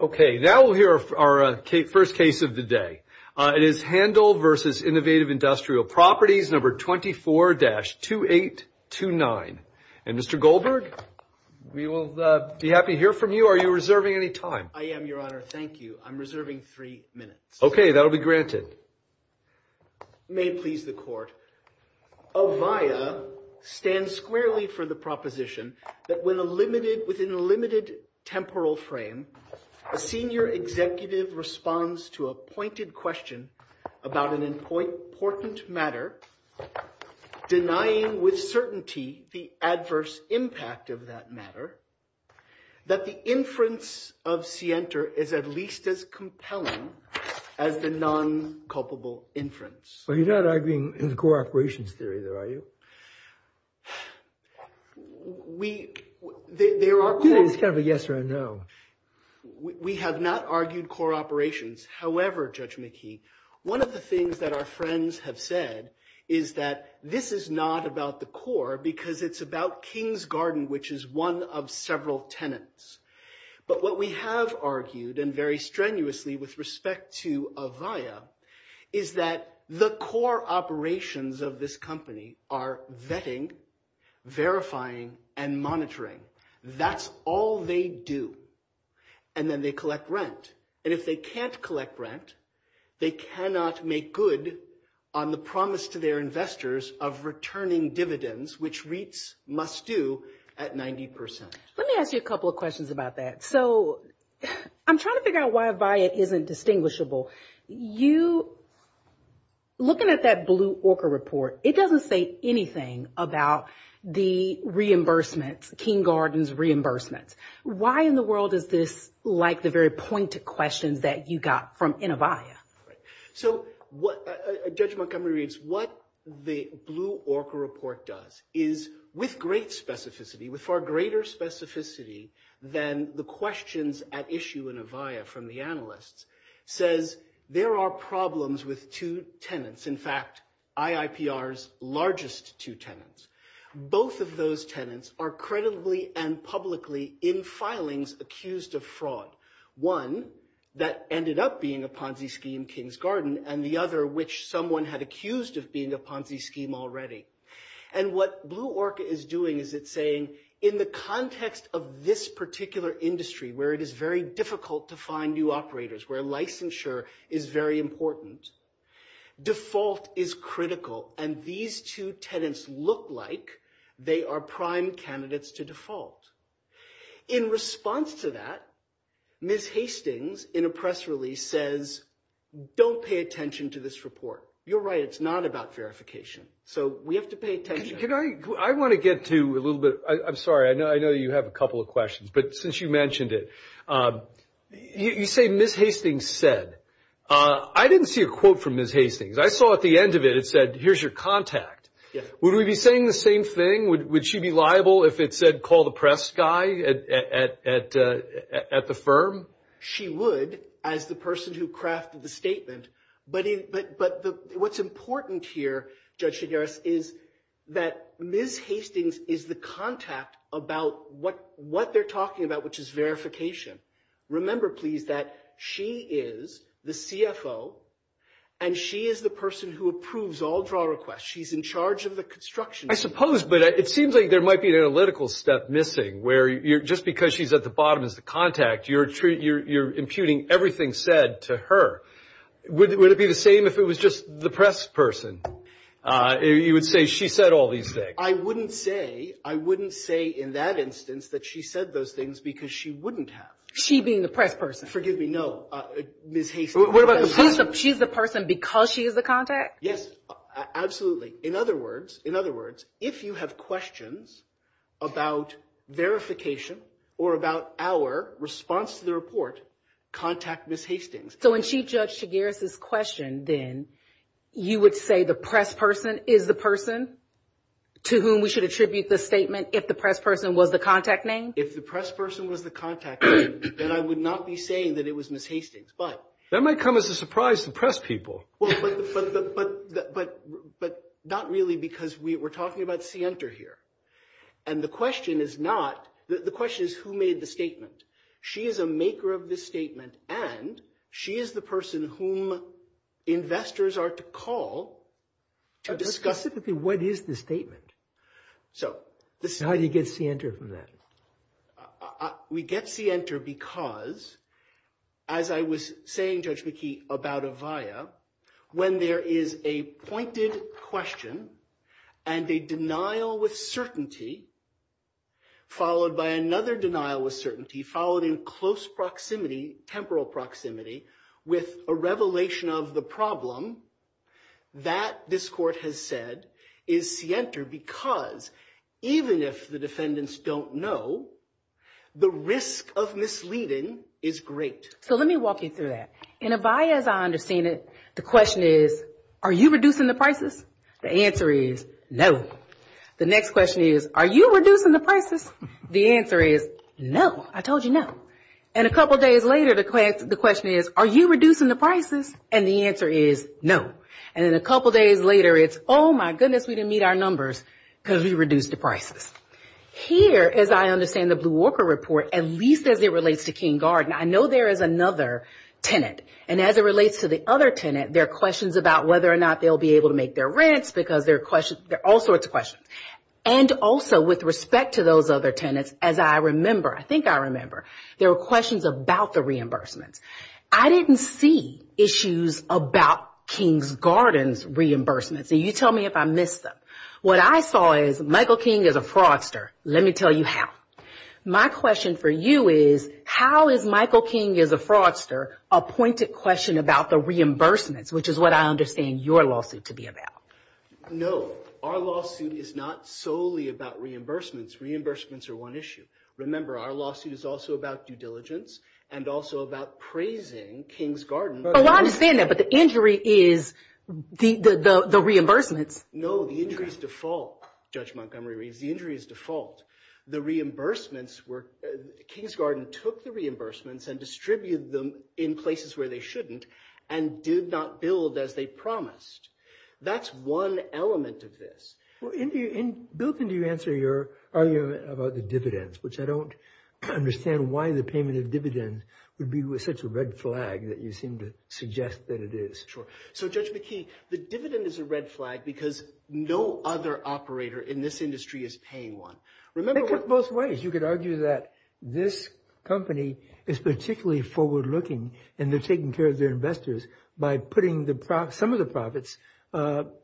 Okay. Now we'll hear our first case of the day. It is Handel v. Innovative Industrial Properties No. 24-2829. And, Mr. Goldberg, we will be happy to hear from you. Are you reserving any time? I am, Your Honor. Thank you. I'm reserving three minutes. Okay. That will be granted. May it please the Court. OVIA stands squarely for the proposition that within a limited temporal frame, a senior executive responds to a pointed question about an important matter, denying with certainty the adverse impact of that matter, that the inference of scienter is at least as compelling as the non-culpable inference. So you're not arguing in the core operations theory, though, are you? We – there are – It's kind of a yes or a no. We have not argued core operations. However, Judge McKee, one of the things that our friends have said is that this is not about the core because it's about Kings Garden, which is one of several tenants. But what we have argued, and very strenuously with respect to OVIA, is that the core operations of this company are vetting, verifying, and monitoring. That's all they do. And then they collect rent. And if they can't collect rent, they cannot make good on the promise to their investors of returning dividends, which REITs must do at 90 percent. Let me ask you a couple of questions about that. So I'm trying to figure out why OVIA isn't distinguishable. You – looking at that Blue Orca report, it doesn't say anything about the reimbursements, Kings Garden's reimbursements. Why in the world is this like the very pointed questions that you got from InnoVIA? So what – Judge Montgomery reads, what the Blue Orca report does is, with great specificity, with far greater specificity than the questions at issue in OVIA from the analysts, says there are problems with two tenants, in fact, IIPR's largest two tenants. Both of those tenants are credibly and publicly in filings accused of fraud, one that ended up being a Ponzi scheme, Kings Garden, and the other, which someone had accused of being a Ponzi scheme already. And what Blue Orca is doing is it's saying, in the context of this particular industry, where it is very difficult to find new operators, where licensure is very important, default is critical, and these two tenants look like they are prime candidates to default. In response to that, Ms. Hastings, in a press release, says, don't pay attention to this report. You're right, it's not about verification. So we have to pay attention. Can I – I want to get to a little bit – I'm sorry, I know you have a couple of questions, but since you mentioned it, you say Ms. Hastings said. I didn't see a quote from Ms. Hastings. I saw at the end of it, it said, here's your contact. Would we be saying the same thing? Would she be liable if it said, call the press guy at the firm? She would, as the person who crafted the statement. But what's important here, Judge Shigaris, is that Ms. Hastings is the contact about what they're talking about, which is verification. Remember, please, that she is the CFO, and she is the person who approves all draw requests. She's in charge of the construction. I suppose, but it seems like there might be an analytical step missing, where just because she's at the bottom as the contact, you're imputing everything said to her. Would it be the same if it was just the press person? You would say, she said all these things. I wouldn't say, I wouldn't say in that instance that she said those things because she wouldn't have. She being the press person? Forgive me, no. Ms. Hastings. She's the person because she is the contact? Yes, absolutely. In other words, in other words, if you have questions about verification or about our response to the report, contact Ms. Hastings. So in Chief Judge Shigaris's question, then, you would say the press person is the person to whom we should attribute the statement if the press person was the contact name? If the press person was the contact name, then I would not be saying that it was Ms. Hastings, but. That might come as a surprise to press people. Well, but not really because we're talking about scienter here. And the question is not, the question is who made the statement? She is a maker of this statement, and she is the person whom investors are to call to discuss. What is the statement? How do you get scienter from that? We get scienter because, as I was saying, Judge McKee, about Avaya, when there is a pointed question and a denial with certainty, followed by another denial with certainty, followed in close proximity, temporal proximity, with a revelation of the problem, that, this court has said, is scienter because, even if the defendants don't know, the risk of misleading is great. So let me walk you through that. In Avaya, as I understand it, the question is, are you reducing the prices? The answer is, no. The next question is, are you reducing the prices? The answer is, no. I told you no. And a couple days later, the question is, are you reducing the prices? And the answer is, no. And then a couple days later, it's, oh, my goodness, we didn't meet our numbers. Because we reduced the prices. Here, as I understand the Blue Walker report, at least as it relates to King Garden, I know there is another tenant. And as it relates to the other tenant, there are questions about whether or not they'll be able to make their rents because there are all sorts of questions. And also, with respect to those other tenants, as I remember, I think I remember, there were questions about the reimbursements. I didn't see issues about King's Garden's reimbursements. And you tell me if I missed them. What I saw is Michael King is a fraudster. Let me tell you how. My question for you is, how is Michael King is a fraudster a pointed question about the reimbursements, which is what I understand your lawsuit to be about? No. Our lawsuit is not solely about reimbursements. Reimbursements are one issue. Remember, our lawsuit is also about due diligence and also about praising King's Garden. Well, I understand that, but the injury is the reimbursements. No, the injury is default, Judge Montgomery reads. The injury is default. The reimbursements were – King's Garden took the reimbursements and distributed them in places where they shouldn't and did not build as they promised. That's one element of this. Bill, can you answer your argument about the dividends, which I don't understand why the payment of dividends would be such a red flag that you seem to suggest that it is. So, Judge McKee, the dividend is a red flag because no other operator in this industry is paying one. It could be both ways. You could argue that this company is particularly forward-looking and they're taking care of their investors by putting some of the profits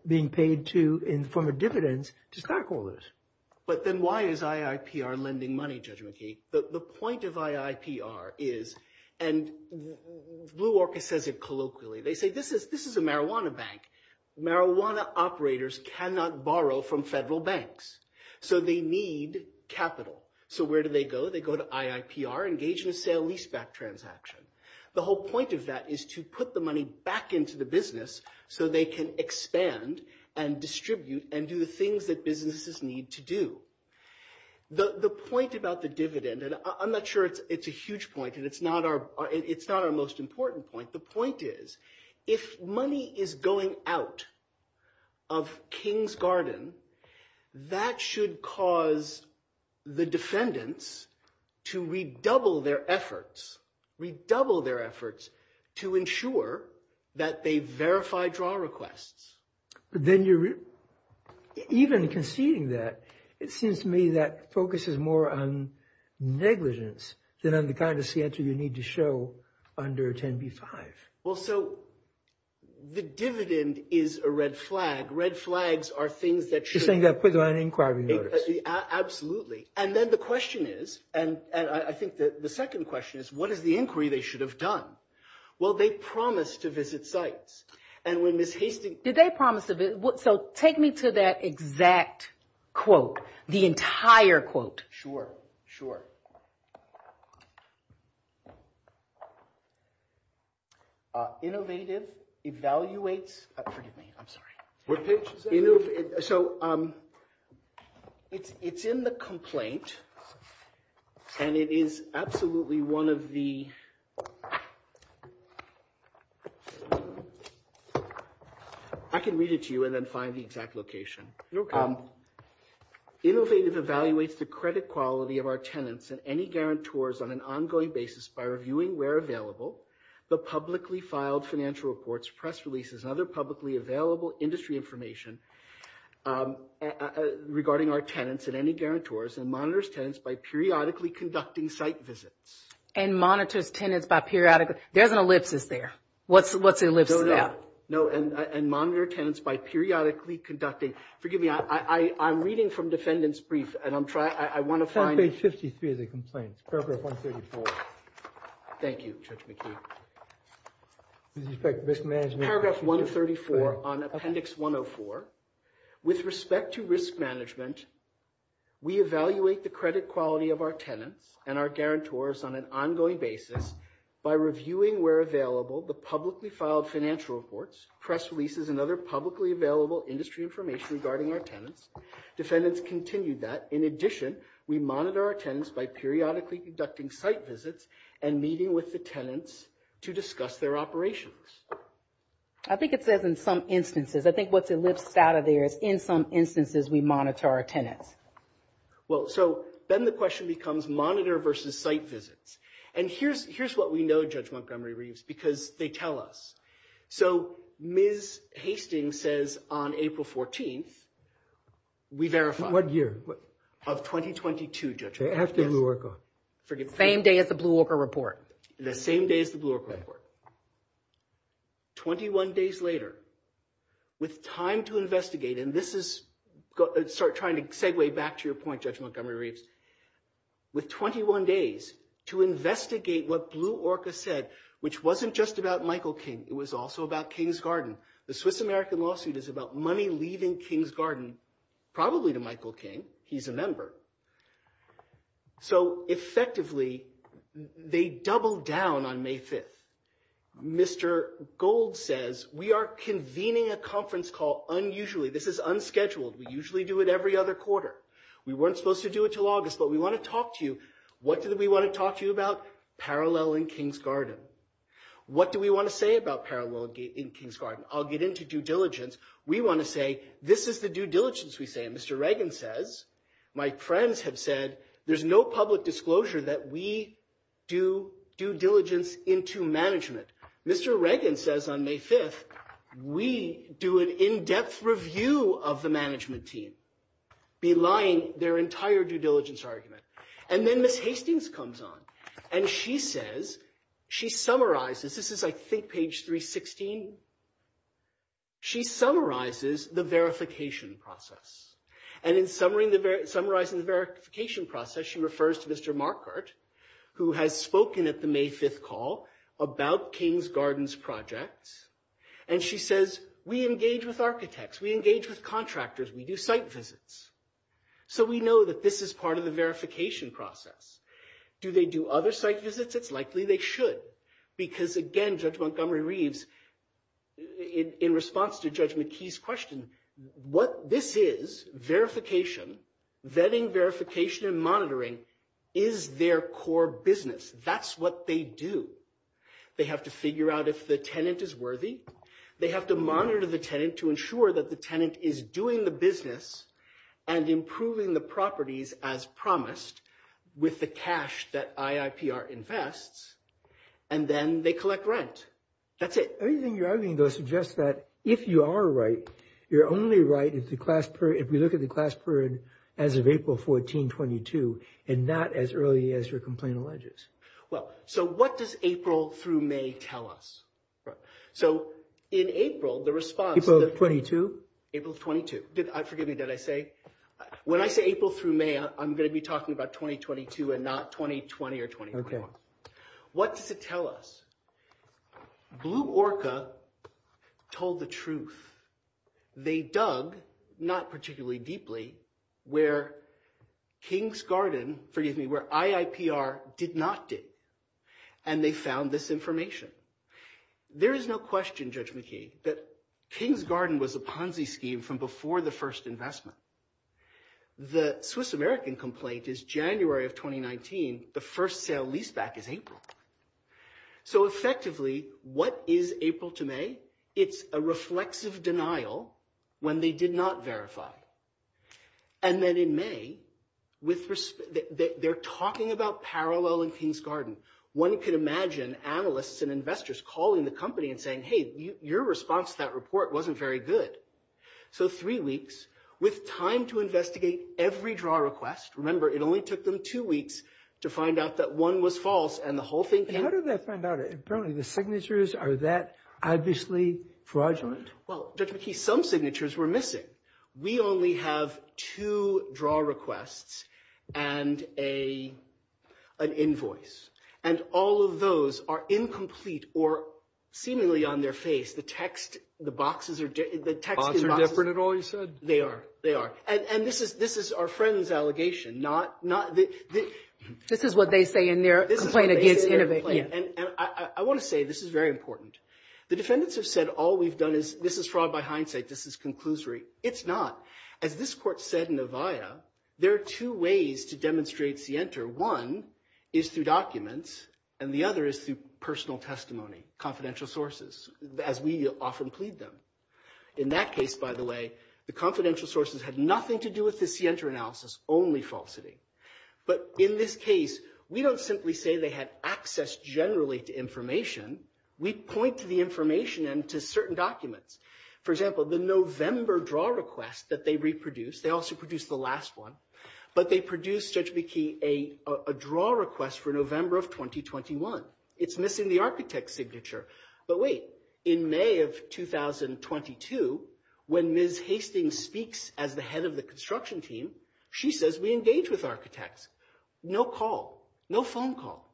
being paid in the form of dividends to stockholders. But then why is IIPR lending money, Judge McKee? The point of IIPR is – and Blue Orchestra says it colloquially. They say this is a marijuana bank. Marijuana operators cannot borrow from federal banks, so they need capital. So where do they go? They go to IIPR, engage in a sale-leaseback transaction. The whole point of that is to put the money back into the business so they can expand and distribute and do the things that businesses need to do. The point about the dividend – and I'm not sure it's a huge point and it's not our most important point. The point is if money is going out of Kings Garden, that should cause the defendants to redouble their efforts, redouble their efforts to ensure that they verify draw requests. But then you're – even conceding that, it seems to me that focus is more on negligence than on the kind of answer you need to show under 10b-5. Well, so the dividend is a red flag. Red flags are things that should – You're saying that put them on inquiry notice. Absolutely. And then the question is – and I think the second question is what is the inquiry they should have done? Well, they promised to visit sites. And when Ms. Hastings – Did they promise to – so take me to that exact quote, the entire quote. Sure, sure. Innovative, evaluates – forgive me, I'm sorry. What page is that? So it's in the complaint and it is absolutely one of the – I can read it to you and then find the exact location. Innovative evaluates the credit quality of our tenants and any guarantors on an ongoing basis by reviewing where available the publicly filed financial reports, press releases, and other publicly available industry information regarding our tenants and any guarantors and monitors tenants by periodically conducting site visits. And monitors tenants by periodically – there's an ellipsis there. What's the ellipsis? No, no. And monitor tenants by periodically conducting – forgive me, I'm reading from defendant's brief and I'm trying – It's on page 53 of the complaint, paragraph 134. Thank you, Judge McKee. With respect to risk management – Paragraph 134 on appendix 104. With respect to risk management, we evaluate the credit quality of our tenants and our guarantors on an ongoing basis by reviewing where available the publicly filed financial reports, press releases, and other publicly available industry information regarding our tenants. Defendants continue that. In addition, we monitor our tenants by periodically conducting site visits and meeting with the tenants to discuss their operations. I think it says in some instances. I think what's ellipsed out of there is in some instances we monitor our tenants. Well, so then the question becomes monitor versus site visits. And here's what we know, Judge Montgomery-Reeves, because they tell us. So Ms. Hastings says on April 14th, we verify. What year? Of 2022, Judge Montgomery-Reeves. After Blue Orca. Same day as the Blue Orca report. The same day as the Blue Orca report. 21 days later, with time to investigate, and this is – sorry, trying to segue back to your point, Judge Montgomery-Reeves. With 21 days to investigate what Blue Orca said, which wasn't just about Michael King. It was also about Kings Garden. The Swiss-American lawsuit is about money leaving Kings Garden, probably to Michael King. He's a member. So effectively, they double down on May 5th. Mr. Gold says, we are convening a conference call unusually. This is unscheduled. We usually do it every other quarter. We weren't supposed to do it until August, but we want to talk to you. What did we want to talk to you about? Parallel in Kings Garden. What do we want to say about parallel in Kings Garden? I'll get into due diligence. We want to say, this is the due diligence we say. Mr. Reagan says, my friends have said, there's no public disclosure that we do due diligence into management. Mr. Reagan says on May 5th, we do an in-depth review of the management team. Belying their entire due diligence argument. And then Ms. Hastings comes on. And she says, she summarizes, this is I think page 316. She summarizes the verification process. And in summarizing the verification process, she refers to Mr. Markert, who has spoken at the May 5th call about Kings Garden's projects. And she says, we engage with architects. We engage with contractors. We do site visits. So we know that this is part of the verification process. Do they do other site visits? It's likely they should. Because again, Judge Montgomery Reeves, in response to Judge McKee's question, what this is, verification, vetting, verification, and monitoring, is their core business. That's what they do. They have to figure out if the tenant is worthy. They have to monitor the tenant to ensure that the tenant is doing the business and improving the properties as promised with the cash that IIPR invests. And then they collect rent. That's it. Everything you're arguing, though, suggests that if you are right, you're only right if we look at the class period as of April 14, 22, and not as early as your complaint alleges. Well, so what does April through May tell us? So in April, the response— April of 22? April of 22. Forgive me. Did I say? When I say April through May, I'm going to be talking about 2022 and not 2020 or 24. What does it tell us? Blue Orca told the truth. They dug, not particularly deeply, where Kings Garden—forgive me, where IIPR did not dig, and they found this information. There is no question, Judge McKee, that Kings Garden was a Ponzi scheme from before the first investment. The Swiss American complaint is January of 2019. The first sale leaseback is April. So effectively, what is April to May? It's a reflexive denial when they did not verify. And then in May, they're talking about parallel in Kings Garden. One could imagine analysts and investors calling the company and saying, hey, your response to that report wasn't very good. So three weeks, with time to investigate every draw request. Remember, it only took them two weeks to find out that one was false and the whole thing— How did they find out? Apparently the signatures, are that obviously fraudulent? Well, Judge McKee, some signatures were missing. We only have two draw requests and an invoice. And all of those are incomplete or seemingly on their face. The text, the boxes are— Boxes are different at all, you said? They are. They are. And this is our friend's allegation, not— This is what they say in their complaint against Innovate. And I want to say this is very important. The defendants have said all we've done is, this is fraud by hindsight, this is conclusory. It's not. As this court said in Avaya, there are two ways to demonstrate scienter. One is through documents, and the other is through personal testimony, confidential sources, as we often plead them. In that case, by the way, the confidential sources had nothing to do with the scienter analysis, only falsity. But in this case, we don't simply say they had access generally to information. We point to the information and to certain documents. For example, the November draw request that they reproduced, they also produced the last one, but they produced, Judge McKee, a draw request for November of 2021. It's missing the architect's signature. But wait. In May of 2022, when Ms. Hastings speaks as the head of the construction team, she says we engage with architects. No call. No phone call.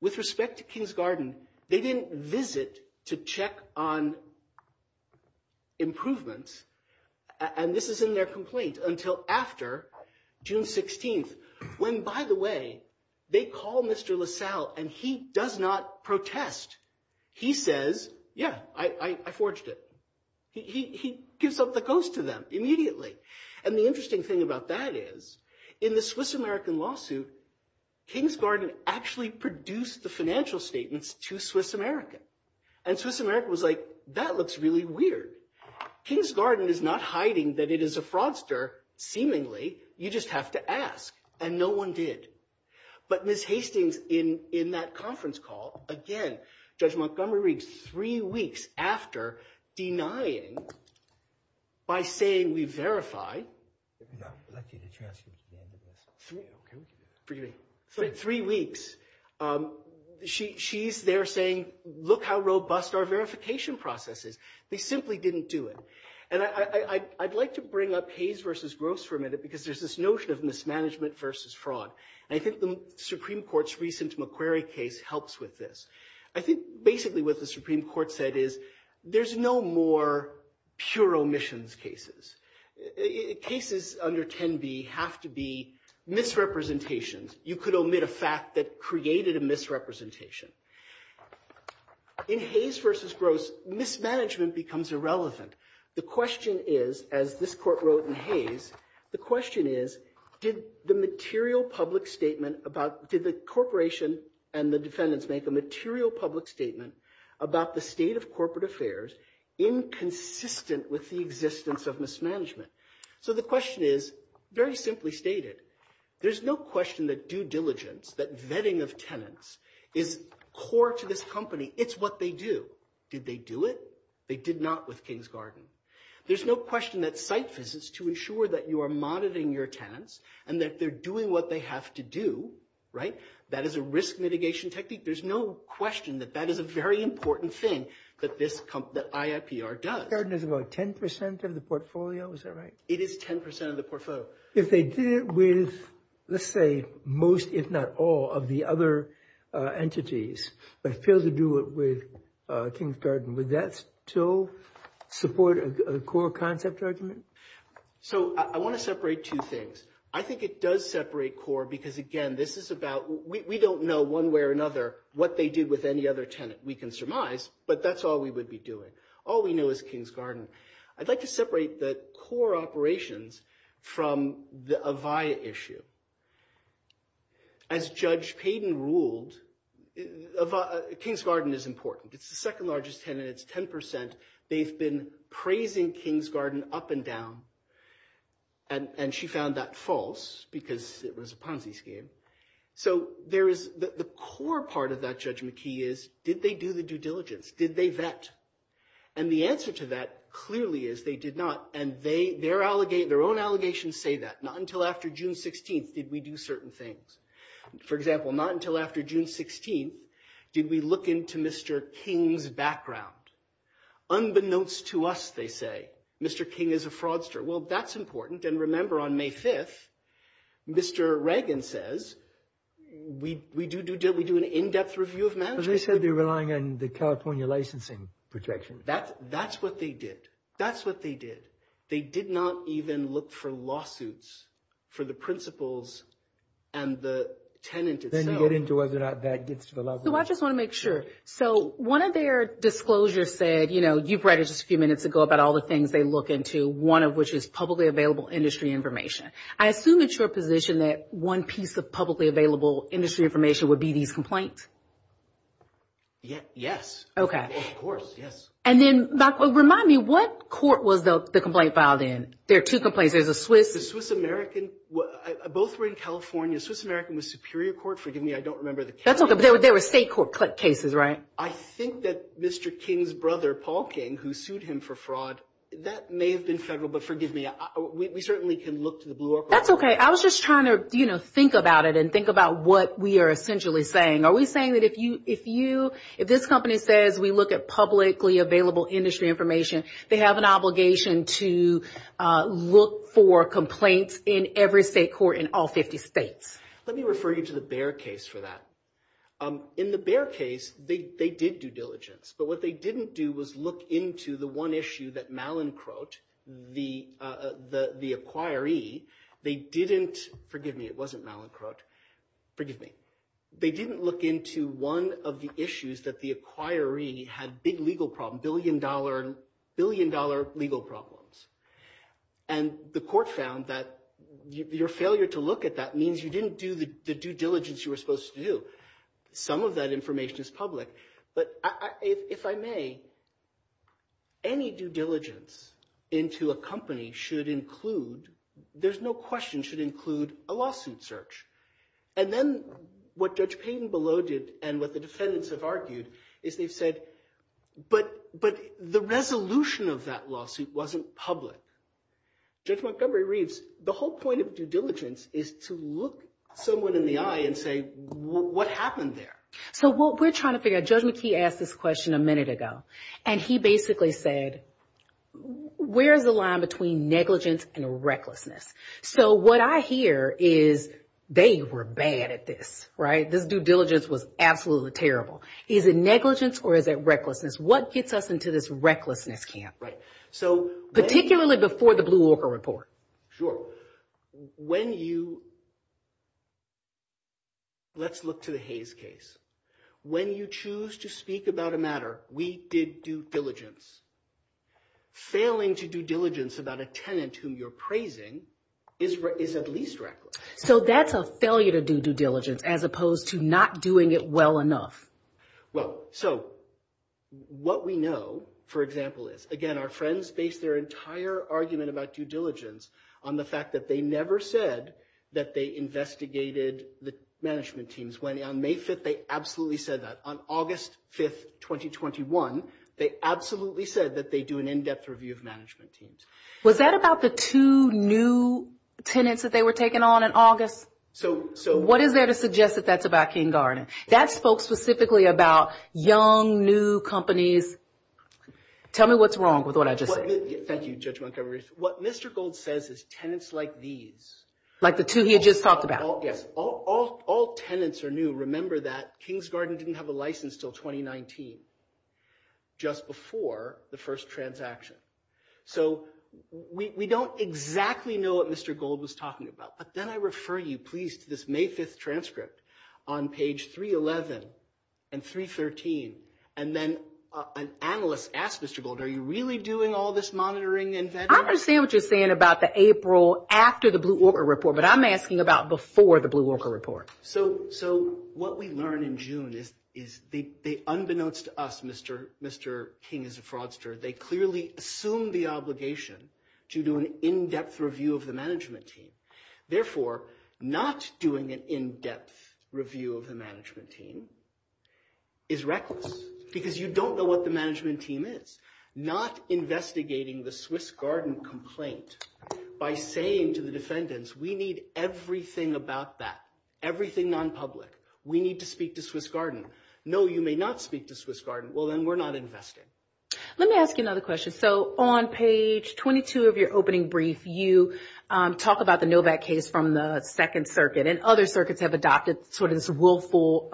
With respect to Kings Garden, they didn't visit to check on improvements, and this is in their complaint, until after June 16th, when, by the way, they call Mr. LaSalle, and he does not protest. He says, yeah, I forged it. He gives up the ghost to them immediately. And the interesting thing about that is, in the Swiss-American lawsuit, Kings Garden actually produced the financial statements to Swiss-American. And Swiss-American was like, that looks really weird. Kings Garden is not hiding that it is a fraudster, seemingly. You just have to ask. And no one did. But Ms. Hastings, in that conference call, again, Judge Montgomery reads three weeks after denying, by saying we verify. Three weeks. She's there saying, look how robust our verification process is. They simply didn't do it. And I'd like to bring up Hayes versus Gross for a minute, because there's this notion of mismanagement versus fraud. And I think the Supreme Court's recent McQuarrie case helps with this. I think basically what the Supreme Court said is, there's no more pure omissions cases. Cases under 10b have to be misrepresentations. You could omit a fact that created a misrepresentation. In Hayes versus Gross, mismanagement becomes irrelevant. The question is, as this court wrote in Hayes, the question is, did the material public statement about, did the corporation and the defendants make a material public statement about the state of corporate affairs inconsistent with the existence of mismanagement? So the question is, very simply stated, there's no question that due diligence, that vetting of tenants is core to this company. It's what they do. Did they do it? They did not with King's Garden. There's no question that site visits to ensure that you are monitoring your tenants and that they're doing what they have to do, right? That is a risk mitigation technique. There's no question that that is a very important thing that this, that IIPR does. Garden is about 10% of the portfolio. Is that right? It is 10% of the portfolio. If they did it with, let's say, most if not all of the other entities, but failed to do it with King's Garden, would that still support a core concept argument? So I want to separate two things. I think it does separate core because, again, this is about, we don't know one way or another what they did with any other tenant. We can surmise, but that's all we would be doing. All we know is King's Garden. I'd like to separate the core operations from the Avaya issue. As Judge Payden ruled, King's Garden is important. It's the second largest tenant. It's 10%. They've been praising King's Garden up and down, and she found that false because it was a Ponzi scheme. So there is, the core part of that judgment key is, did they do the due diligence? Did they vet? And the answer to that clearly is they did not, and their own allegations say that. Not until after June 16th did we do certain things. For example, not until after June 16th did we look into Mr. King's background. Unbeknownst to us, they say, Mr. King is a fraudster. Well, that's important, and remember on May 5th, Mr. Reagan says, we do an in-depth review of management. Well, they said they're relying on the California licensing protection. That's what they did. That's what they did. They did not even look for lawsuits for the principals and the tenant itself. Then you get into whether or not that gets to the law. So I just want to make sure. So one of their disclosures said, you know, you've read it just a few minutes ago about all the things they look into, one of which is publicly available industry information. I assume it's your position that one piece of publicly available industry information would be these complaints? Yes. Okay. Of course, yes. And then, remind me, what court was the complaint filed in? There are two complaints. There's a Swiss. The Swiss-American. Both were in California. The Swiss-American was Superior Court. Forgive me, I don't remember the county. There were state court cases, right? I think that Mr. King's brother, Paul King, who sued him for fraud, that may have been federal, but forgive me, we certainly can look to the Blue Orca. That's okay. I was just trying to, you know, think about it and think about what we are essentially saying. Are we saying that if you, if this company says we look at publicly available industry information, they have an obligation to look for complaints in every state court in all 50 states? Let me refer you to the Baer case for that. In the Baer case, they did due diligence. But what they didn't do was look into the one issue that Malincroft, the acquiree, they didn't, forgive me, it wasn't Malincroft, forgive me, they didn't look into one of the issues that the acquiree had big legal problems, billion-dollar legal problems. And the court found that your failure to look at that means you didn't do the due diligence you were supposed to do. Some of that information is public. But if I may, any due diligence into a company should include, there's no question, should include a lawsuit search. And then what Judge Payden below did and what the defendants have argued is they've said, but the resolution of that lawsuit wasn't public. Judge Montgomery-Reeves, the whole point of due diligence is to look someone in the eye and say, what happened there? So what we're trying to figure out, Judge McKee asked this question a minute ago. And he basically said, where's the line between negligence and recklessness? So what I hear is they were bad at this, right? This due diligence was absolutely terrible. Is it negligence or is it recklessness? What gets us into this recklessness camp? Right. So particularly before the Blue Orca report. Sure. When you, let's look to the Hayes case. When you choose to speak about a matter, we did due diligence. Failing to do diligence about a tenant whom you're praising is at least reckless. So that's a failure to do due diligence as opposed to not doing it well enough. Well, so what we know, for example, is, again, our friends based their entire argument about due diligence on the fact that they never said that they investigated the management teams. When on May 5th, they absolutely said that. On August 5th, 2021, they absolutely said that they do an in-depth review of management teams. Was that about the two new tenants that they were taking on in August? So what is there to suggest that that's about King Garden? That spoke specifically about young, new companies. Tell me what's wrong with what I just said. Thank you, Judge Montgomery. What Mr. Gold says is tenants like these. Like the two he had just talked about. Yes. All tenants are new. Remember that King's Garden didn't have a license until 2019, just before the first transaction. So we don't exactly know what Mr. Gold was talking about. Then I refer you, please, to this May 5th transcript on page 311 and 313. And then an analyst asked Mr. Gold, are you really doing all this monitoring and vetting? I understand what you're saying about the April after the Blue Orca report, but I'm asking about before the Blue Orca report. So what we learned in June is that unbeknownst to us, Mr. King is a fraudster. They clearly assume the obligation to do an in-depth review of the management team. Therefore, not doing an in-depth review of the management team is reckless because you don't know what the management team is. Not investigating the Swiss Garden complaint by saying to the defendants, we need everything about that, everything nonpublic. We need to speak to Swiss Garden. No, you may not speak to Swiss Garden. Well, then we're not investing. Let me ask you another question. So on page 22 of your opening brief, you talk about the Novak case from the Second Circuit, and other circuits have adopted sort of this willful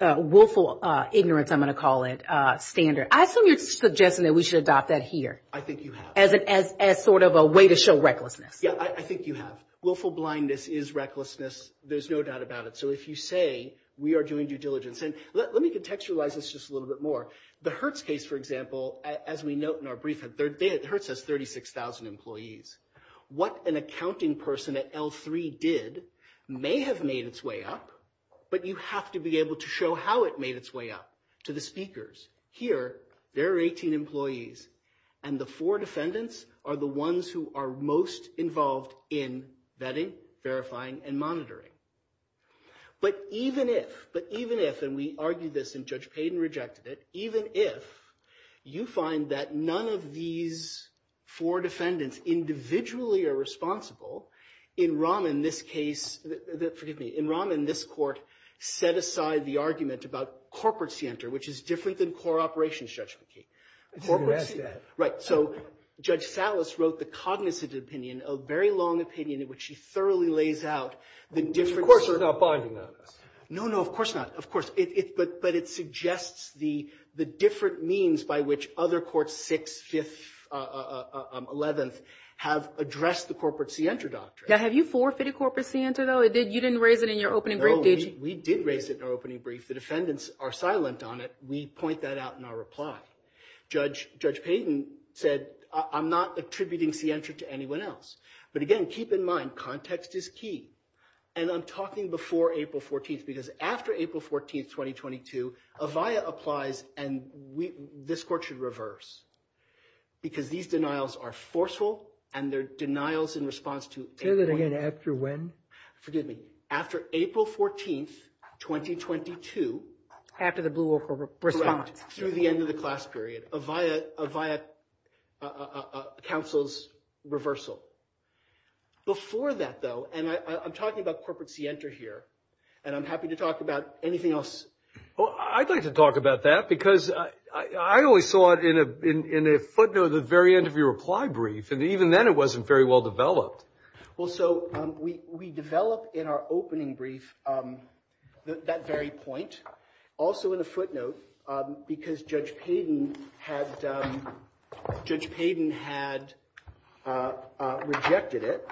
ignorance, I'm going to call it, standard. I assume you're suggesting that we should adopt that here. I think you have. As sort of a way to show recklessness. Yeah, I think you have. Willful blindness is recklessness. There's no doubt about it. So if you say we are doing due diligence, and let me contextualize this just a little bit more. The Hertz case, for example, as we note in our brief, Hertz has 36,000 employees. What an accounting person at L3 did may have made its way up, but you have to be able to show how it made its way up to the speakers. Here, there are 18 employees, and the four defendants are the ones who are most involved in vetting, verifying, and monitoring. But even if, but even if, and we argued this, and Judge Payden rejected it, even if you find that none of these four defendants individually are responsible, in Rahman, this case, forgive me, in Rahman, this court set aside the argument about corporate scienter, which is different than core operations, Judge McKee. Corporate scienter. Right, so Judge Salas wrote the cognizant opinion, a very long opinion in which she thoroughly lays out the difference. Of course it's not binding on us. No, no, of course not, of course. But it suggests the different means by which other courts, 6th, 5th, 11th, have addressed the corporate scienter doctrine. Now, have you forfeited corporate scienter, though? You didn't raise it in your opening brief, did you? No, we did raise it in our opening brief. The defendants are silent on it. We point that out in our reply. Judge Payden said, I'm not attributing scienter to anyone else. But again, keep in mind, context is key. And I'm talking before April 14th, because after April 14th, 2022, Avaya applies, and this court should reverse. Because these denials are forceful, and they're denials in response to April 14th. Say that again, after when? Forgive me. After April 14th, 2022. After the Blue Oak response. Through the end of the class period, Avaya counsels reversal. Before that, though, and I'm talking about corporate scienter here, and I'm happy to talk about anything else. Well, I'd like to talk about that, because I only saw it in a footnote at the very end of your reply brief, and even then it wasn't very well developed. Well, so we develop in our opening brief that very point, also in a footnote, because Judge Payden had rejected it.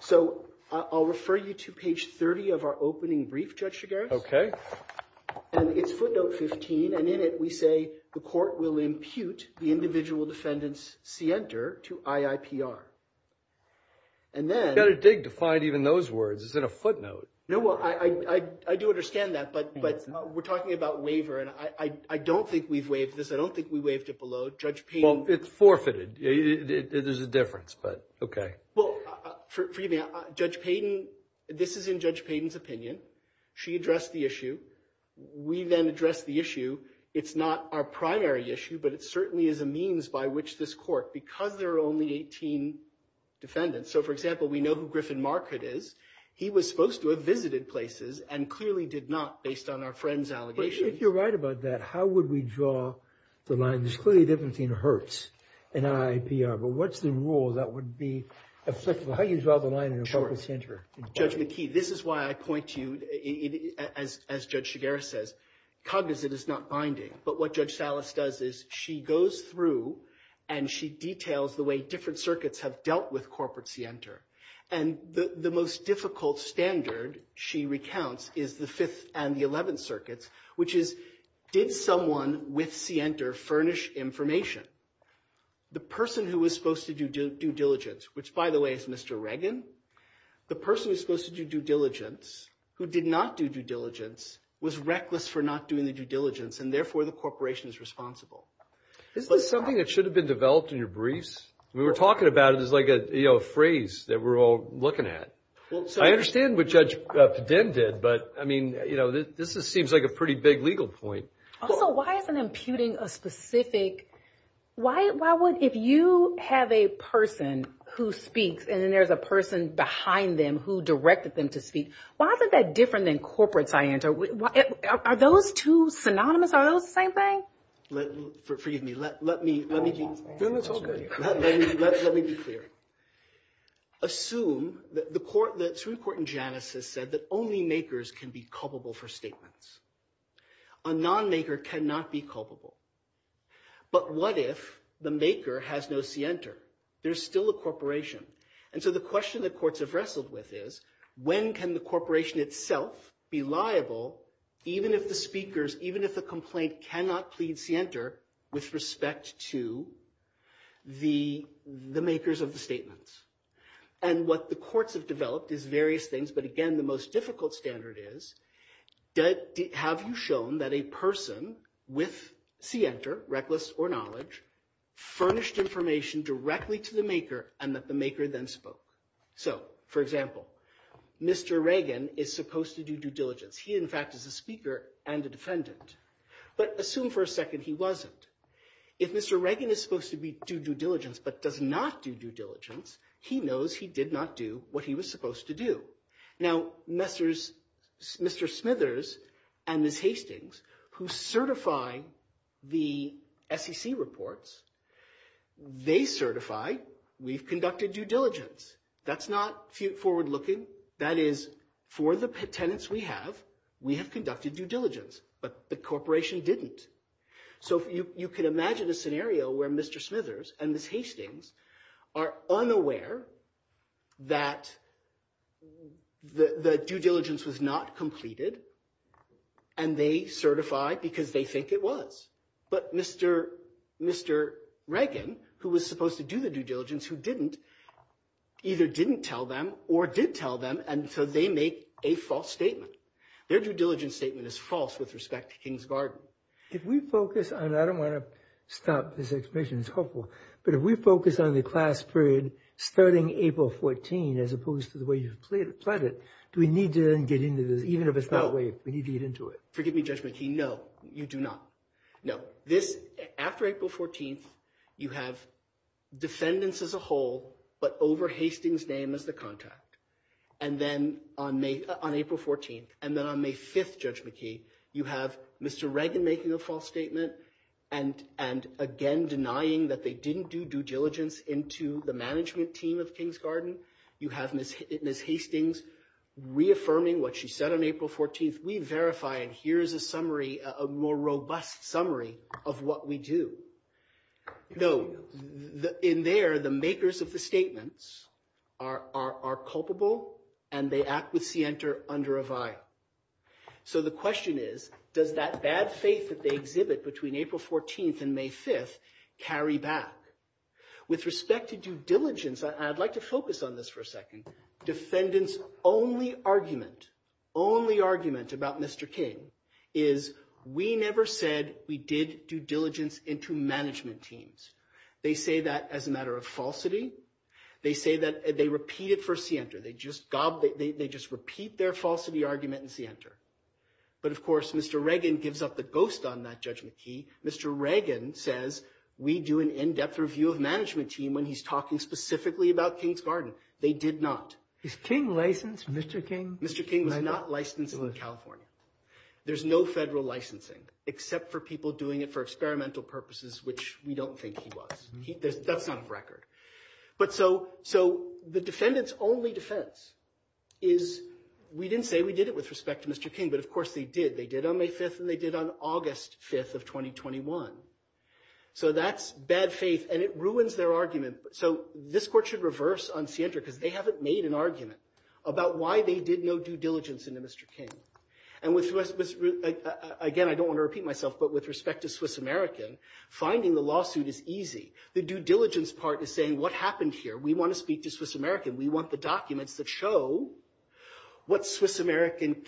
So I'll refer you to page 30 of our opening brief, Judge Chigares. Okay. And it's footnote 15, and in it we say the court will impute the individual defendant's scienter to IIPR. And then. You've got to dig to find even those words. It's in a footnote. No, well, I do understand that, but we're talking about waiver, and I don't think we've waived this. I don't think we waived it below. Judge Payden. Well, it's forfeited. There's a difference, but okay. Well, forgive me. Judge Payden, this is in Judge Payden's opinion. She addressed the issue. We then addressed the issue. It's not our primary issue, but it certainly is a means by which this court, because there are only 18 defendants. So, for example, we know who Griffin Marquardt is. He was supposed to have visited places and clearly did not based on our friend's allegation. But if you're right about that, how would we draw the line? There's clearly a difference between Hertz and IIPR, but what's the rule that would be effective? How do you draw the line in a public center? Judge McKee, this is why I point to you, as Judge Shigera says, cognizant is not binding. But what Judge Salas does is she goes through and she details the way different circuits have dealt with corporate Sienter. And the most difficult standard, she recounts, is the Fifth and the Eleventh Circuits, which is did someone with Sienter furnish information? The person who was supposed to do due diligence, which, by the way, is Mr. Reagan, the person who's supposed to do due diligence, who did not do due diligence, was reckless for not doing the due diligence, and therefore the corporation is responsible. Isn't this something that should have been developed in your briefs? We were talking about it as like a phrase that we're all looking at. I understand what Judge Padin did, but, I mean, this seems like a pretty big legal point. Also, why isn't imputing a specific – if you have a person who speaks and then there's a person behind them who directed them to speak, why isn't that different than corporate Sienter? Are those two synonymous? Are those the same thing? Forgive me. Let me be clear. Assume that the Supreme Court in Janus has said that only makers can be culpable for statements. A non-maker cannot be culpable. But what if the maker has no Sienter? There's still a corporation. And so the question that courts have wrestled with is, when can the corporation itself be liable, even if the speakers, even if the complaint cannot plead Sienter with respect to the makers of the statements? And what the courts have developed is various things. But, again, the most difficult standard is, have you shown that a person with Sienter, reckless or knowledge, furnished information directly to the maker and that the maker then spoke? So, for example, Mr. Reagan is supposed to do due diligence. He, in fact, is a speaker and a defendant. But assume for a second he wasn't. If Mr. Reagan is supposed to do due diligence but does not do due diligence, he knows he did not do what he was supposed to do. Now, Mr. Smithers and Ms. Hastings, who certify the SEC reports, they certify we've conducted due diligence. That's not forward-looking. That is, for the tenants we have, we have conducted due diligence. But the corporation didn't. So you can imagine a scenario where Mr. Smithers and Ms. Hastings are unaware that the due diligence was not completed, and they certify because they think it was. But Mr. Reagan, who was supposed to do the due diligence, who didn't, either didn't tell them or did tell them, and so they make a false statement. Their due diligence statement is false with respect to Kings Garden. If we focus on – I don't want to stop this exposition. It's helpful. But if we focus on the class period starting April 14 as opposed to the way you've plotted it, do we need to then get into this, even if it's not waived? We need to get into it. Forgive me, Judge McKee. No, you do not. No. This – after April 14th, you have defendants as a whole but over Hastings' name as the contact. And then on April 14th, and then on May 5th, Judge McKee, you have Mr. Reagan making a false statement and again denying that they didn't do due diligence into the management team of Kings Garden. You have Ms. Hastings reaffirming what she said on April 14th. We verify, and here is a summary, a more robust summary of what we do. No. In there, the makers of the statements are culpable and they act with scienter under a vial. So the question is, does that bad faith that they exhibit between April 14th and May 5th carry back? With respect to due diligence, I'd like to focus on this for a second. Defendants' only argument, only argument about Mr. King is we never said we did due diligence into management teams. They say that as a matter of falsity. They say that – they repeat it for scienter. They just repeat their falsity argument in scienter. But, of course, Mr. Reagan gives up the ghost on that, Judge McKee. Mr. Reagan says we do an in-depth review of management team when he's talking specifically about Kings Garden. They did not. Is King licensed? Mr. King? Mr. King was not licensed in California. There's no federal licensing except for people doing it for experimental purposes, which we don't think he was. That's not a record. But so the defendant's only defense is we didn't say we did it with respect to Mr. King. But, of course, they did. They did on May 5th and they did on August 5th of 2021. So that's bad faith, and it ruins their argument. So this court should reverse on scienter because they haven't made an argument about why they did no due diligence into Mr. King. And, again, I don't want to repeat myself, but with respect to Swiss American, finding the lawsuit is easy. The due diligence part is saying what happened here. We want to speak to Swiss American. We want the documents that show what Swiss American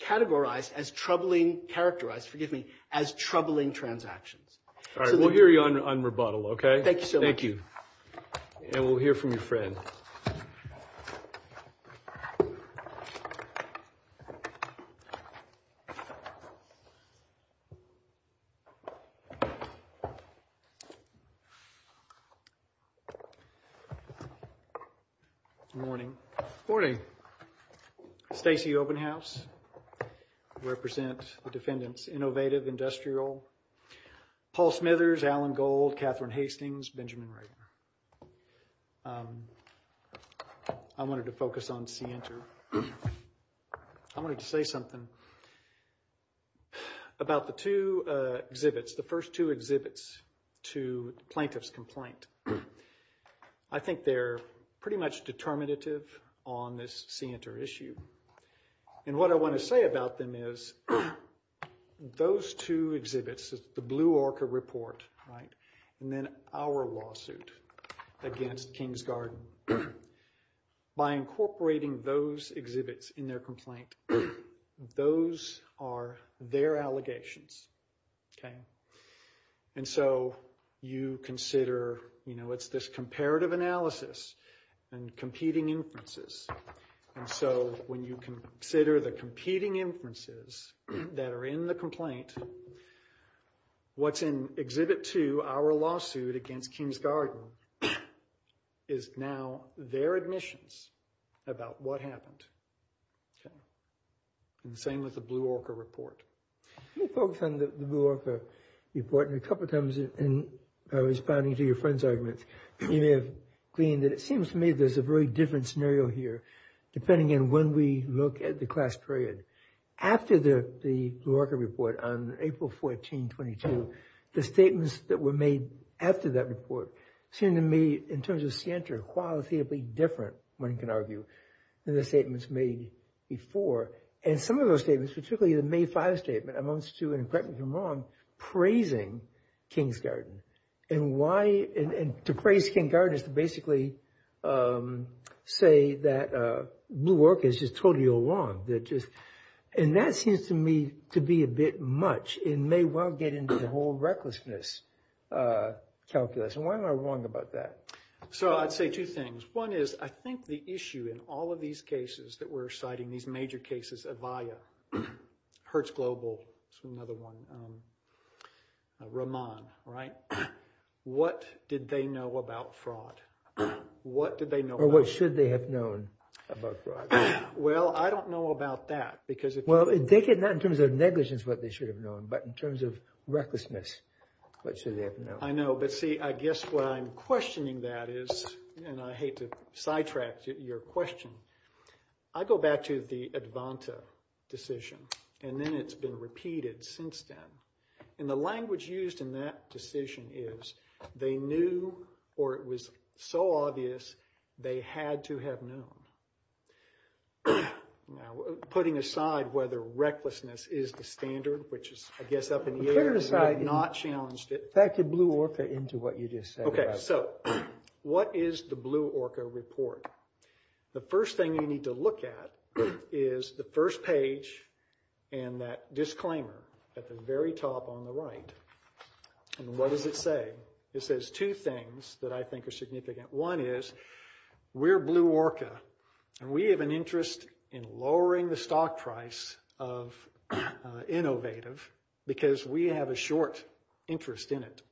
categorized as troubling – characterized, forgive me – as troubling transactions. All right. We'll hear you on rebuttal, okay? Thank you so much. And we'll hear from your friend. Morning. Morning. Stacey Obenhaus, represent the defendants, Innovative Industrial. Paul Smithers, Alan Gold, Catherine Hastings, Benjamin Rayner. I wanted to focus on scienter. I wanted to say something about the two exhibits, the first two exhibits to the plaintiff's complaint. I think they're pretty much determinative on this scienter issue. And what I want to say about them is those two exhibits, the Blue Orca report, right, and then our lawsuit against Kingsgarden. By incorporating those exhibits in their complaint, those are their allegations, okay? And so you consider, you know, it's this comparative analysis and competing inferences. And so when you consider the competing inferences that are in the complaint, what's in exhibit two, our lawsuit against Kingsgarden, is now their admissions about what happened, okay? And the same with the Blue Orca report. Let me focus on the Blue Orca report. A couple times in responding to your friend's argument, you may have gleaned that it seems to me there's a very different scenario here, depending on when we look at the class period. After the Blue Orca report on April 14, 22, the statements that were made after that report seem to me, in terms of scienter, qualitatively different, one can argue, than the statements made before. And some of those statements, particularly the May 5 statement, amounts to, and correct me if I'm wrong, praising Kingsgarden. And why, and to praise Kingsgarden is to basically say that Blue Orca is just totally wrong. And that seems to me to be a bit much, and may well get into the whole recklessness calculus. And why am I wrong about that? So, I'd say two things. One is, I think the issue in all of these cases that we're citing, these major cases, Avaya, Hertz Global, another one, Ramon, right? What did they know about fraud? What did they know about fraud? Or what should they have known about fraud? Well, I don't know about that, because if you… Well, take it not in terms of negligence, what they should have known, but in terms of recklessness, what should they have known? I know, but see, I guess what I'm questioning that is, and I hate to sidetrack your question. I go back to the Advanta decision, and then it's been repeated since then. And the language used in that decision is, they knew, or it was so obvious, they had to have known. Now, putting aside whether recklessness is the standard, which is, I guess, up in the air. Putting aside. Not challenged it. Back to Blue Orca into what you just said. Okay, so, what is the Blue Orca report? The first thing you need to look at is the first page and that disclaimer at the very top on the right. And what does it say? It says two things that I think are significant. One is, we're Blue Orca, and we have an interest in lowering the stock price of Innovative, because we have a short interest in it.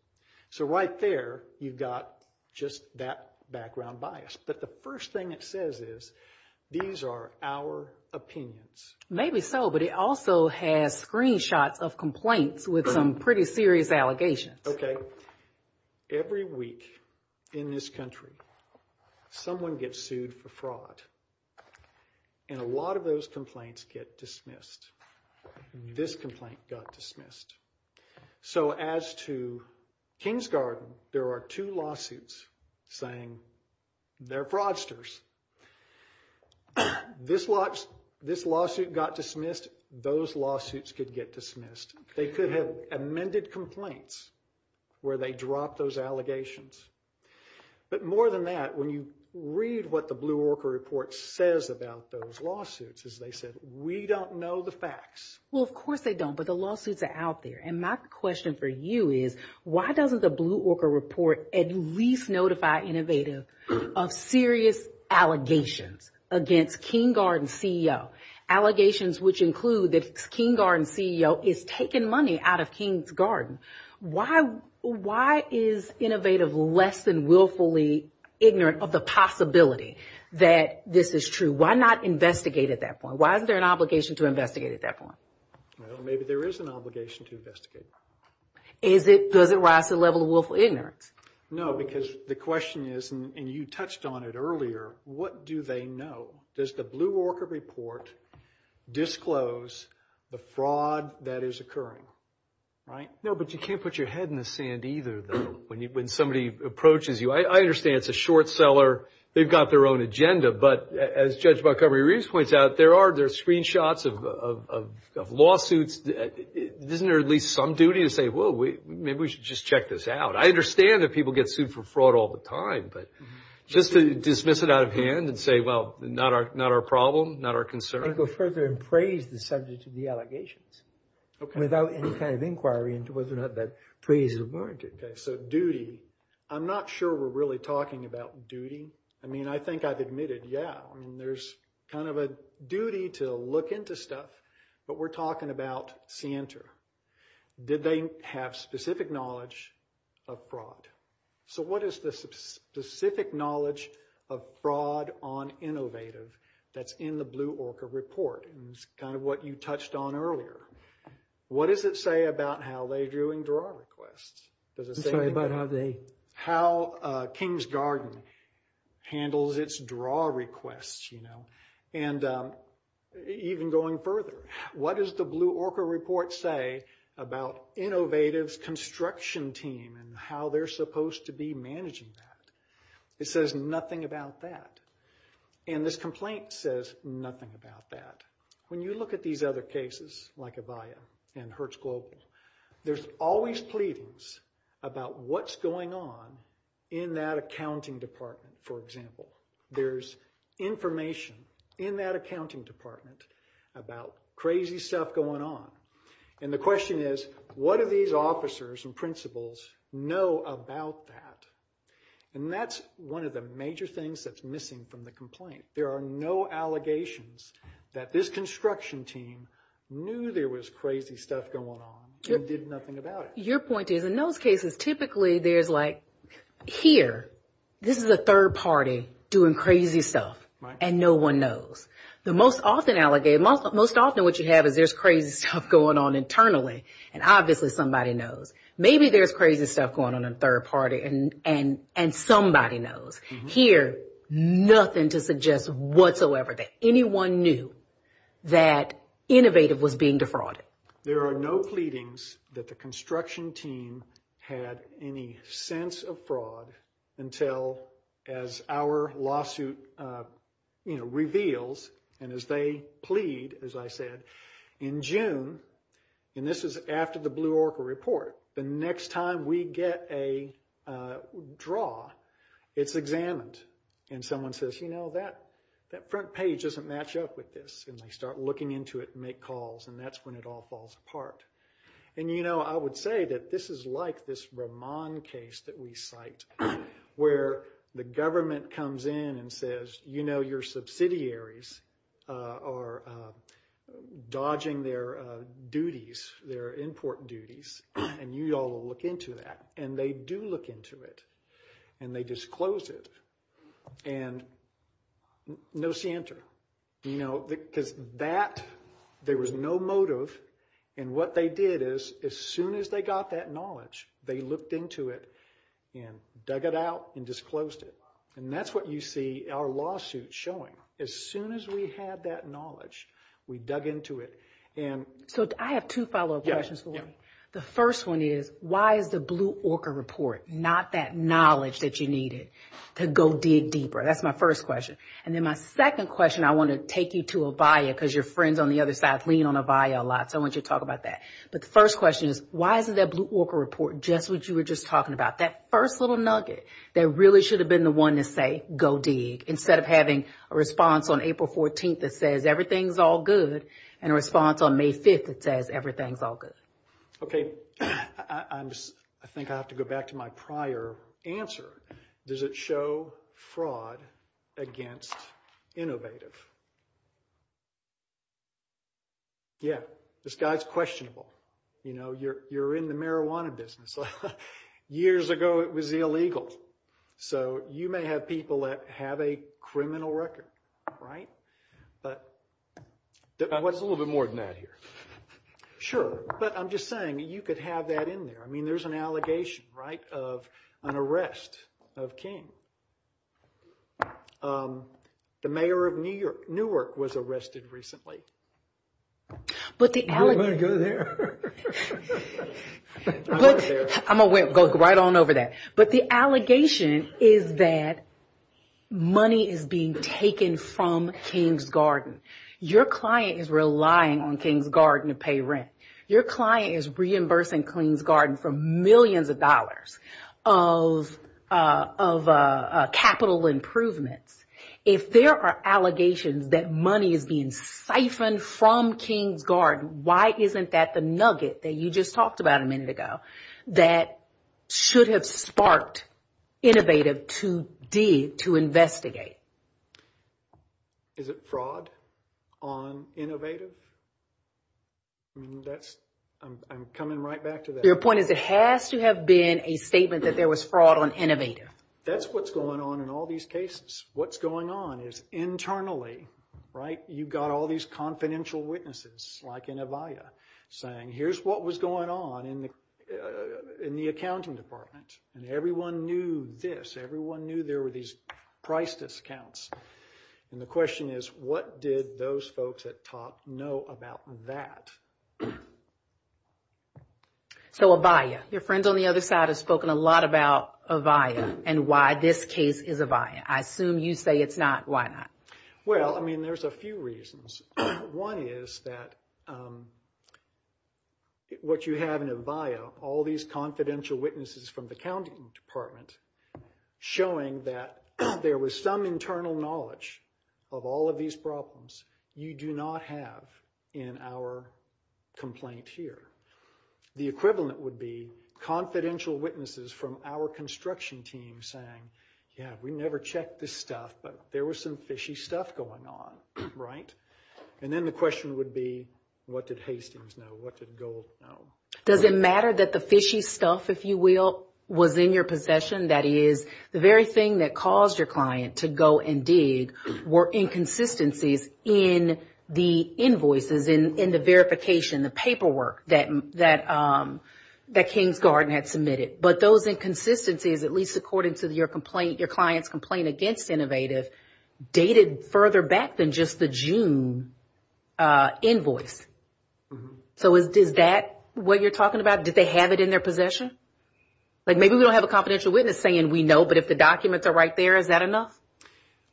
So, right there, you've got just that background bias. But the first thing it says is, these are our opinions. Maybe so, but it also has screenshots of complaints with some pretty serious allegations. Okay. Every week in this country, someone gets sued for fraud. And a lot of those complaints get dismissed. This complaint got dismissed. So, as to Kingsgarden, there are two lawsuits saying they're fraudsters. This lawsuit got dismissed. Those lawsuits could get dismissed. They could have amended complaints where they dropped those allegations. But more than that, when you read what the Blue Orca report says about those lawsuits, as they said, we don't know the facts. Well, of course they don't, but the lawsuits are out there. And my question for you is, why doesn't the Blue Orca report at least notify Innovative of serious allegations against Kingsgarden CEO? Allegations which include that Kingsgarden CEO is taking money out of Kingsgarden. Why is Innovative less than willfully ignorant of the possibility that this is true? Why not investigate at that point? Why isn't there an obligation to investigate at that point? Well, maybe there is an obligation to investigate. Does it rise to the level of willful ignorance? No, because the question is, and you touched on it earlier, what do they know? Does the Blue Orca report disclose the fraud that is occurring? Right? No, but you can't put your head in the sand either, though, when somebody approaches you. I understand it's a short seller. They've got their own agenda. But as Judge Montgomery Reeves points out, there are screenshots of lawsuits. Isn't there at least some duty to say, well, maybe we should just check this out? I understand that people get sued for fraud all the time. But just to dismiss it out of hand and say, well, not our problem, not our concern. And go further and praise the subject of the allegations. Okay. Without any kind of inquiry into whether or not that praise is warranted. Okay, so duty. I'm not sure we're really talking about duty. I mean, I think I've admitted, yeah, there's kind of a duty to look into stuff. But we're talking about Santa. Did they have specific knowledge of fraud? So what is the specific knowledge of fraud on Innovative that's in the Blue Orca report? And it's kind of what you touched on earlier. What does it say about how they're doing draw requests? Sorry, about how they? How King's Garden handles its draw requests, you know? And even going further, what does the Blue Orca report say about Innovative's construction team and how they're supposed to be managing that? It says nothing about that. And this complaint says nothing about that. When you look at these other cases, like Avaya and Hertz Global, there's always pleadings about what's going on in that accounting department, for example. There's information in that accounting department about crazy stuff going on. And the question is, what do these officers and principals know about that? And that's one of the major things that's missing from the complaint. There are no allegations that this construction team knew there was crazy stuff going on and did nothing about it. Your point is, in those cases, typically there's like, here, this is a third party doing crazy stuff. Right. And no one knows. Most often what you have is there's crazy stuff going on internally, and obviously somebody knows. Maybe there's crazy stuff going on in third party, and somebody knows. Here, nothing to suggest whatsoever that anyone knew that Innovative was being defrauded. There are no pleadings that the construction team had any sense of fraud until, as our lawsuit reveals, and as they plead, as I said, in June, and this is after the Blue Orca report, the next time we get a draw, it's examined. And someone says, you know, that front page doesn't match up with this. And they start looking into it and make calls, and that's when it all falls apart. And, you know, I would say that this is like this Ramon case that we cite, where the government comes in and says, you know, your subsidiaries are dodging their duties, their import duties, and you all look into that. And they do look into it, and they disclose it. And no center, you know, because that, there was no motive. And what they did is, as soon as they got that knowledge, they looked into it and dug it out and disclosed it. And that's what you see our lawsuit showing. As soon as we had that knowledge, we dug into it. So I have two follow-up questions for you. The first one is, why is the Blue Orca report not that knowledge that you needed to go dig deeper? That's my first question. And then my second question, I want to take you to Avaya, because your friends on the other side lean on Avaya a lot. So I want you to talk about that. But the first question is, why isn't that Blue Orca report just what you were just talking about, that first little nugget that really should have been the one to say, go dig, instead of having a response on April 14th that says, everything's all good, and a response on May 5th that says, everything's all good? Okay. I think I have to go back to my prior answer. Does it show fraud against Innovative? Yeah. This guy's questionable. You know, you're in the marijuana business. Years ago, it was illegal. So you may have people that have a criminal record, right? What's a little bit more than that here? Sure. But I'm just saying, you could have that in there. I mean, there's an allegation, right, of an arrest of King. The mayor of Newark was arrested recently. But the allegation... Go there. I'm going to go right on over that. But the allegation is that money is being taken from King's Garden. Your client is relying on King's Garden to pay rent. Your client is reimbursing King's Garden for millions of dollars of capital improvements. If there are allegations that money is being siphoned from King's Garden, why isn't that the nugget that you just talked about a minute ago that should have sparked Innovative to dig, to investigate? Is it fraud on Innovative? I mean, that's... I'm coming right back to that. Your point is it has to have been a statement that there was fraud on Innovative. That's what's going on in all these cases. What's going on is internally, right, you've got all these confidential witnesses, like in Avaya, saying, here's what was going on in the accounting department. And everyone knew this. And the question is, what did those folks that talked know about that? So Avaya. Your friend on the other side has spoken a lot about Avaya and why this case is Avaya. I assume you say it's not. Why not? Well, I mean, there's a few reasons. One is that what you have in Avaya, all these confidential witnesses from the accounting department showing that there was some internal knowledge of all of these problems you do not have in our complaint here. The equivalent would be confidential witnesses from our construction team saying, yeah, we never checked this stuff, but there was some fishy stuff going on, right? And then the question would be, what did Hastings know? What did Gold know? Does it matter that the fishy stuff, if you will, was in your possession? That is, the very thing that caused your client to go and dig were inconsistencies in the invoices, in the verification, the paperwork that Kingsgarden had submitted. But those inconsistencies, at least according to your client's complaint against Innovative, dated further back than just the June invoice. So is that what you're talking about? Did they have it in their possession? Like maybe we don't have a confidential witness saying we know, but if the documents are right there, is that enough?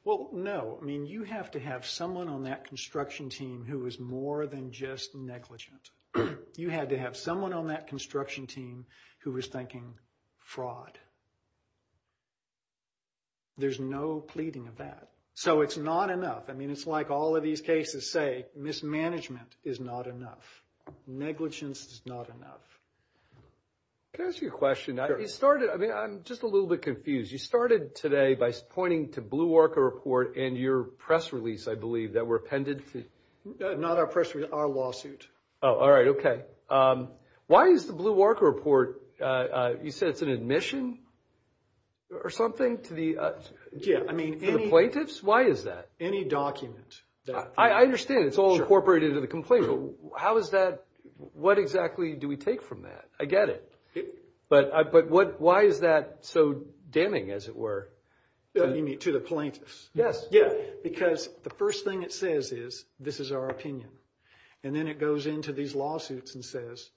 Well, no. I mean, you have to have someone on that construction team who is more than just negligent. You had to have someone on that construction team who was thinking fraud. There's no pleading of that. So it's not enough. I mean, it's like all of these cases say, mismanagement is not enough. Negligence is not enough. Can I ask you a question? Sure. You started, I mean, I'm just a little bit confused. You started today by pointing to Blue Orca Report and your press release, I believe, that were appended to. Not our press release, our lawsuit. Oh, all right. Okay. Why is the Blue Orca Report, you said it's an admission or something to the plaintiffs? Why is that? Any document. I understand. It's all incorporated into the complaint. How is that? What exactly do we take from that? I get it. But why is that so damning, as it were? You mean to the plaintiffs? Yes. Yeah, because the first thing it says is, this is our opinion. And then it goes into these lawsuits and says,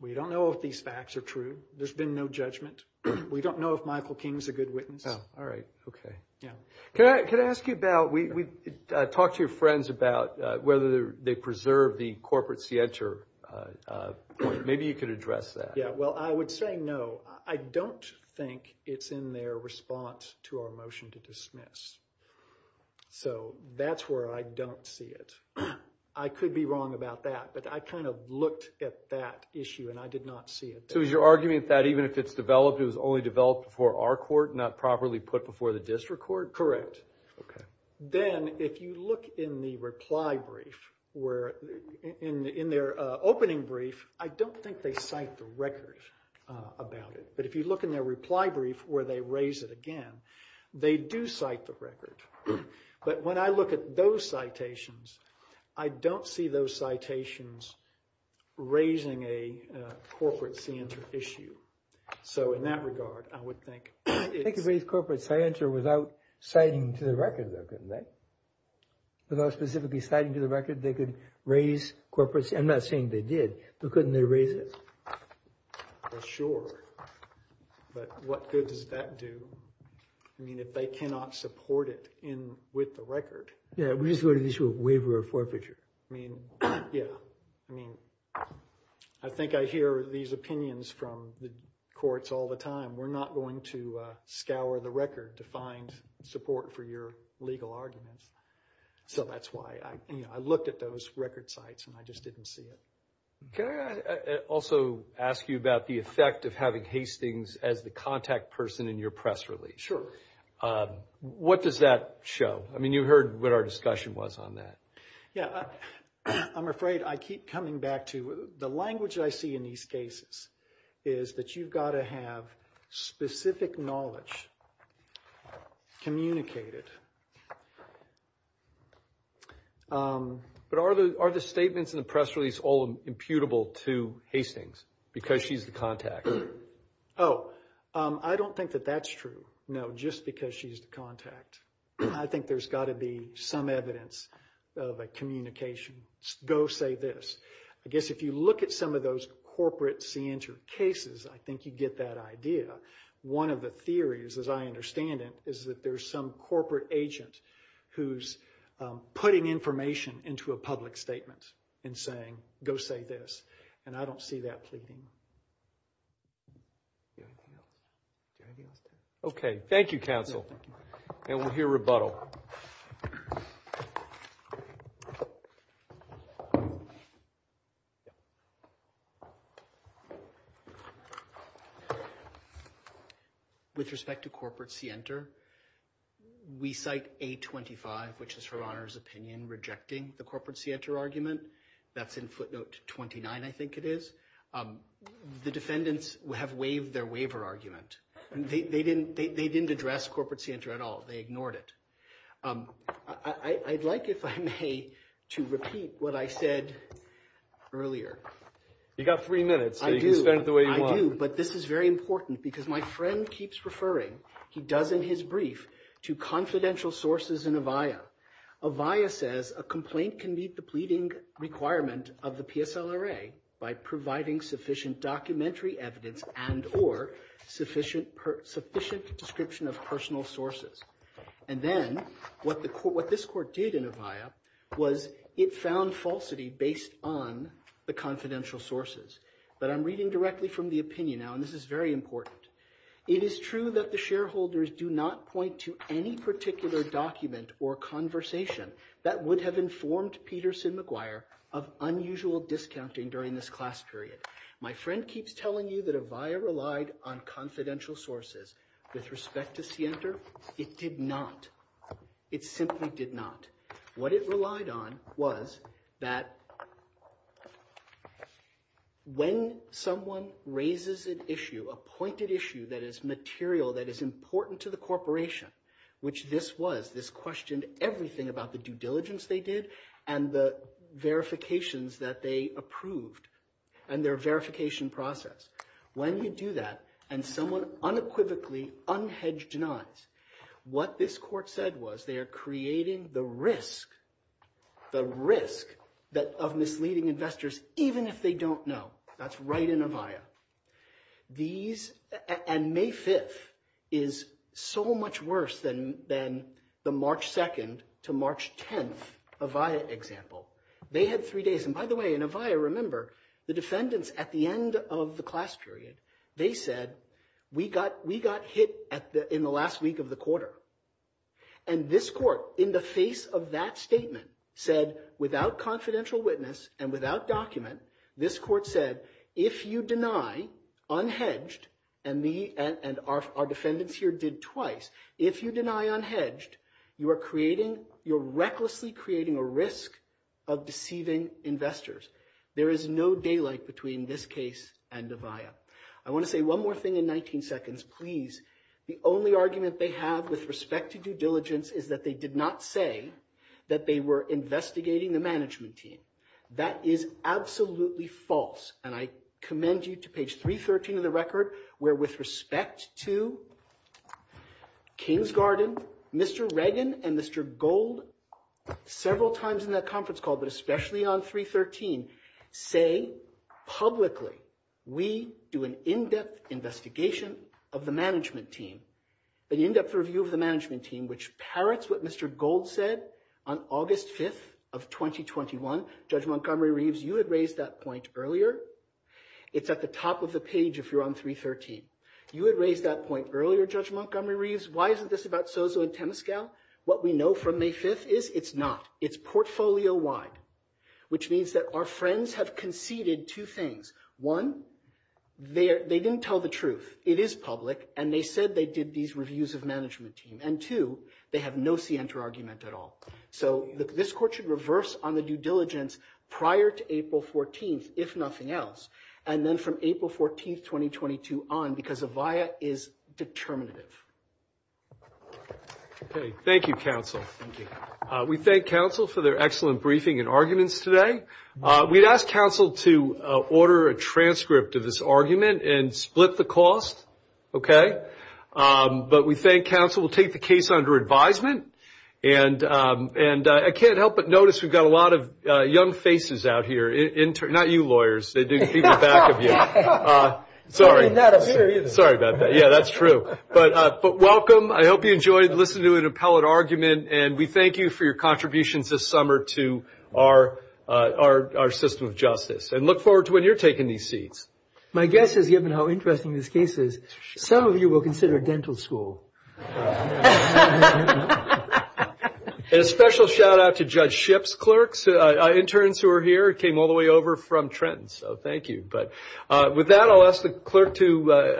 we don't know if these facts are true. There's been no judgment. We don't know if Michael King is a good witness. Oh, all right. Okay. Yeah. Can I ask you about, we talked to your friends about whether they preserve the corporate scienter. Maybe you could address that. Yeah, well, I would say no. I don't think it's in their response to our motion to dismiss. So that's where I don't see it. I could be wrong about that, but I kind of looked at that issue and I did not see it. So is your argument that even if it's developed, it was only developed before our court, not properly put before the district court? Correct. Okay. Then, if you look in the reply brief, in their opening brief, I don't think they cite the record about it. But if you look in their reply brief, where they raise it again, they do cite the record. But when I look at those citations, I don't see those citations raising a corporate scienter issue. So in that regard, I would think it's... They could raise corporate scienter without citing to the record, though, couldn't they? Without specifically citing to the record, they could raise corporate... I'm not saying they did, but couldn't they raise it? Well, sure. But what good does that do? I mean, if they cannot support it with the record... Yeah, we just go to the issue of waiver or forfeiture. I mean, yeah. I mean, I think I hear these opinions from the courts all the time. We're not going to scour the record to find support for your legal arguments. So that's why I looked at those record sites, and I just didn't see it. Can I also ask you about the effect of having Hastings as the contact person in your press release? What does that show? I mean, you heard what our discussion was on that. Yeah. I'm afraid I keep coming back to the language I see in these cases is that you've got to have specific knowledge communicated. But are the statements in the press release all imputable to Hastings because she's the contact? Oh, I don't think that that's true. No, just because she's the contact. I think there's got to be some evidence of a communication. Go say this. I guess if you look at some of those corporate center cases, I think you get that idea. One of the theories, as I understand it, is that there's some corporate agent who's putting information into a public statement and saying, go say this. And I don't see that pleading. Okay. Thank you, counsel. And we'll hear rebuttal. With respect to corporate center, we cite 825, which is Her Honor's opinion, rejecting the corporate center argument. That's in footnote 29, I think it is. The defendants have waived their waiver argument. They didn't address corporate center at all. They ignored it. I'd like, if I may, to repeat what I said earlier. You've got three minutes, so you can spend it the way you want. I do, but this is very important because my friend keeps referring, he does in his brief, to confidential sources in Avaya. Avaya says a complaint can meet the pleading requirement of the PSLRA by providing sufficient documentary evidence and or sufficient description of personal sources. And then what this court did in Avaya was it found falsity based on the confidential sources. But I'm reading directly from the opinion now, and this is very important. It is true that the shareholders do not point to any particular document or conversation that would have informed Peterson McGuire of unusual discounting during this class period. My friend keeps telling you that Avaya relied on confidential sources. With respect to Sienter, it did not. It simply did not. What it relied on was that when someone raises an issue, a pointed issue that is material, that is important to the corporation, which this was, this questioned everything about the due diligence they did and the verifications that they approved and their verification process. When you do that and someone unequivocally unhedged denies, what this court said was they are creating the risk, the risk of misleading investors even if they don't know. That's right in Avaya. And May 5th is so much worse than the March 2nd to March 10th Avaya example. They had three days, and by the way, in Avaya, remember, the defendants at the end of the class period, they said, we got hit in the last week of the quarter. And this court in the face of that statement said, without confidential witness and without document, this court said, if you deny unhedged, and our defendants here did twice, if you deny unhedged, you are creating, you're recklessly creating a risk of deceiving investors. There is no daylight between this case and Avaya. I want to say one more thing in 19 seconds, please. The only argument they have with respect to due diligence is that they did not say that they were investigating the management team. That is absolutely false, and I commend you to page 313 of the record, where with respect to Kingsgarden, Mr. Reagan and Mr. Gold, several times in that conference call, but especially on 313, say publicly, we do an in-depth investigation of the management team, an in-depth review of the management team, which parrots what Mr. Gold said on August 5th of 2021. Judge Montgomery-Reeves, you had raised that point earlier. It's at the top of the page if you're on 313. You had raised that point earlier, Judge Montgomery-Reeves. Why isn't this about Sozo and Temescal? What we know from May 5th is it's not. It's portfolio-wide, which means that our friends have conceded two things. One, they didn't tell the truth. It is public, and they said they did these reviews of management team. And, two, they have no scienter argument at all. So this court should reverse on the due diligence prior to April 14th, if nothing else, and then from April 14th, 2022 on, because a via is determinative. Okay. Thank you, counsel. Thank you. We thank counsel for their excellent briefing and arguments today. We'd ask counsel to order a transcript of this argument and split the cost, okay? But we thank counsel. We'll take the case under advisement. And I can't help but notice we've got a lot of young faces out here. Not you, lawyers. They're in the back of you. Sorry. Sorry about that. Yeah, that's true. But welcome. I hope you enjoyed listening to an appellate argument, and we thank you for your contributions this summer to our system of justice. And look forward to when you're taking these seats. My guess is, given how interesting this case is, some of you will consider dental school. And a special shout-out to Judge Shipp's clerks, interns who are here who came all the way over from Trenton. So thank you. But with that, I'll ask the clerk to introduce himself.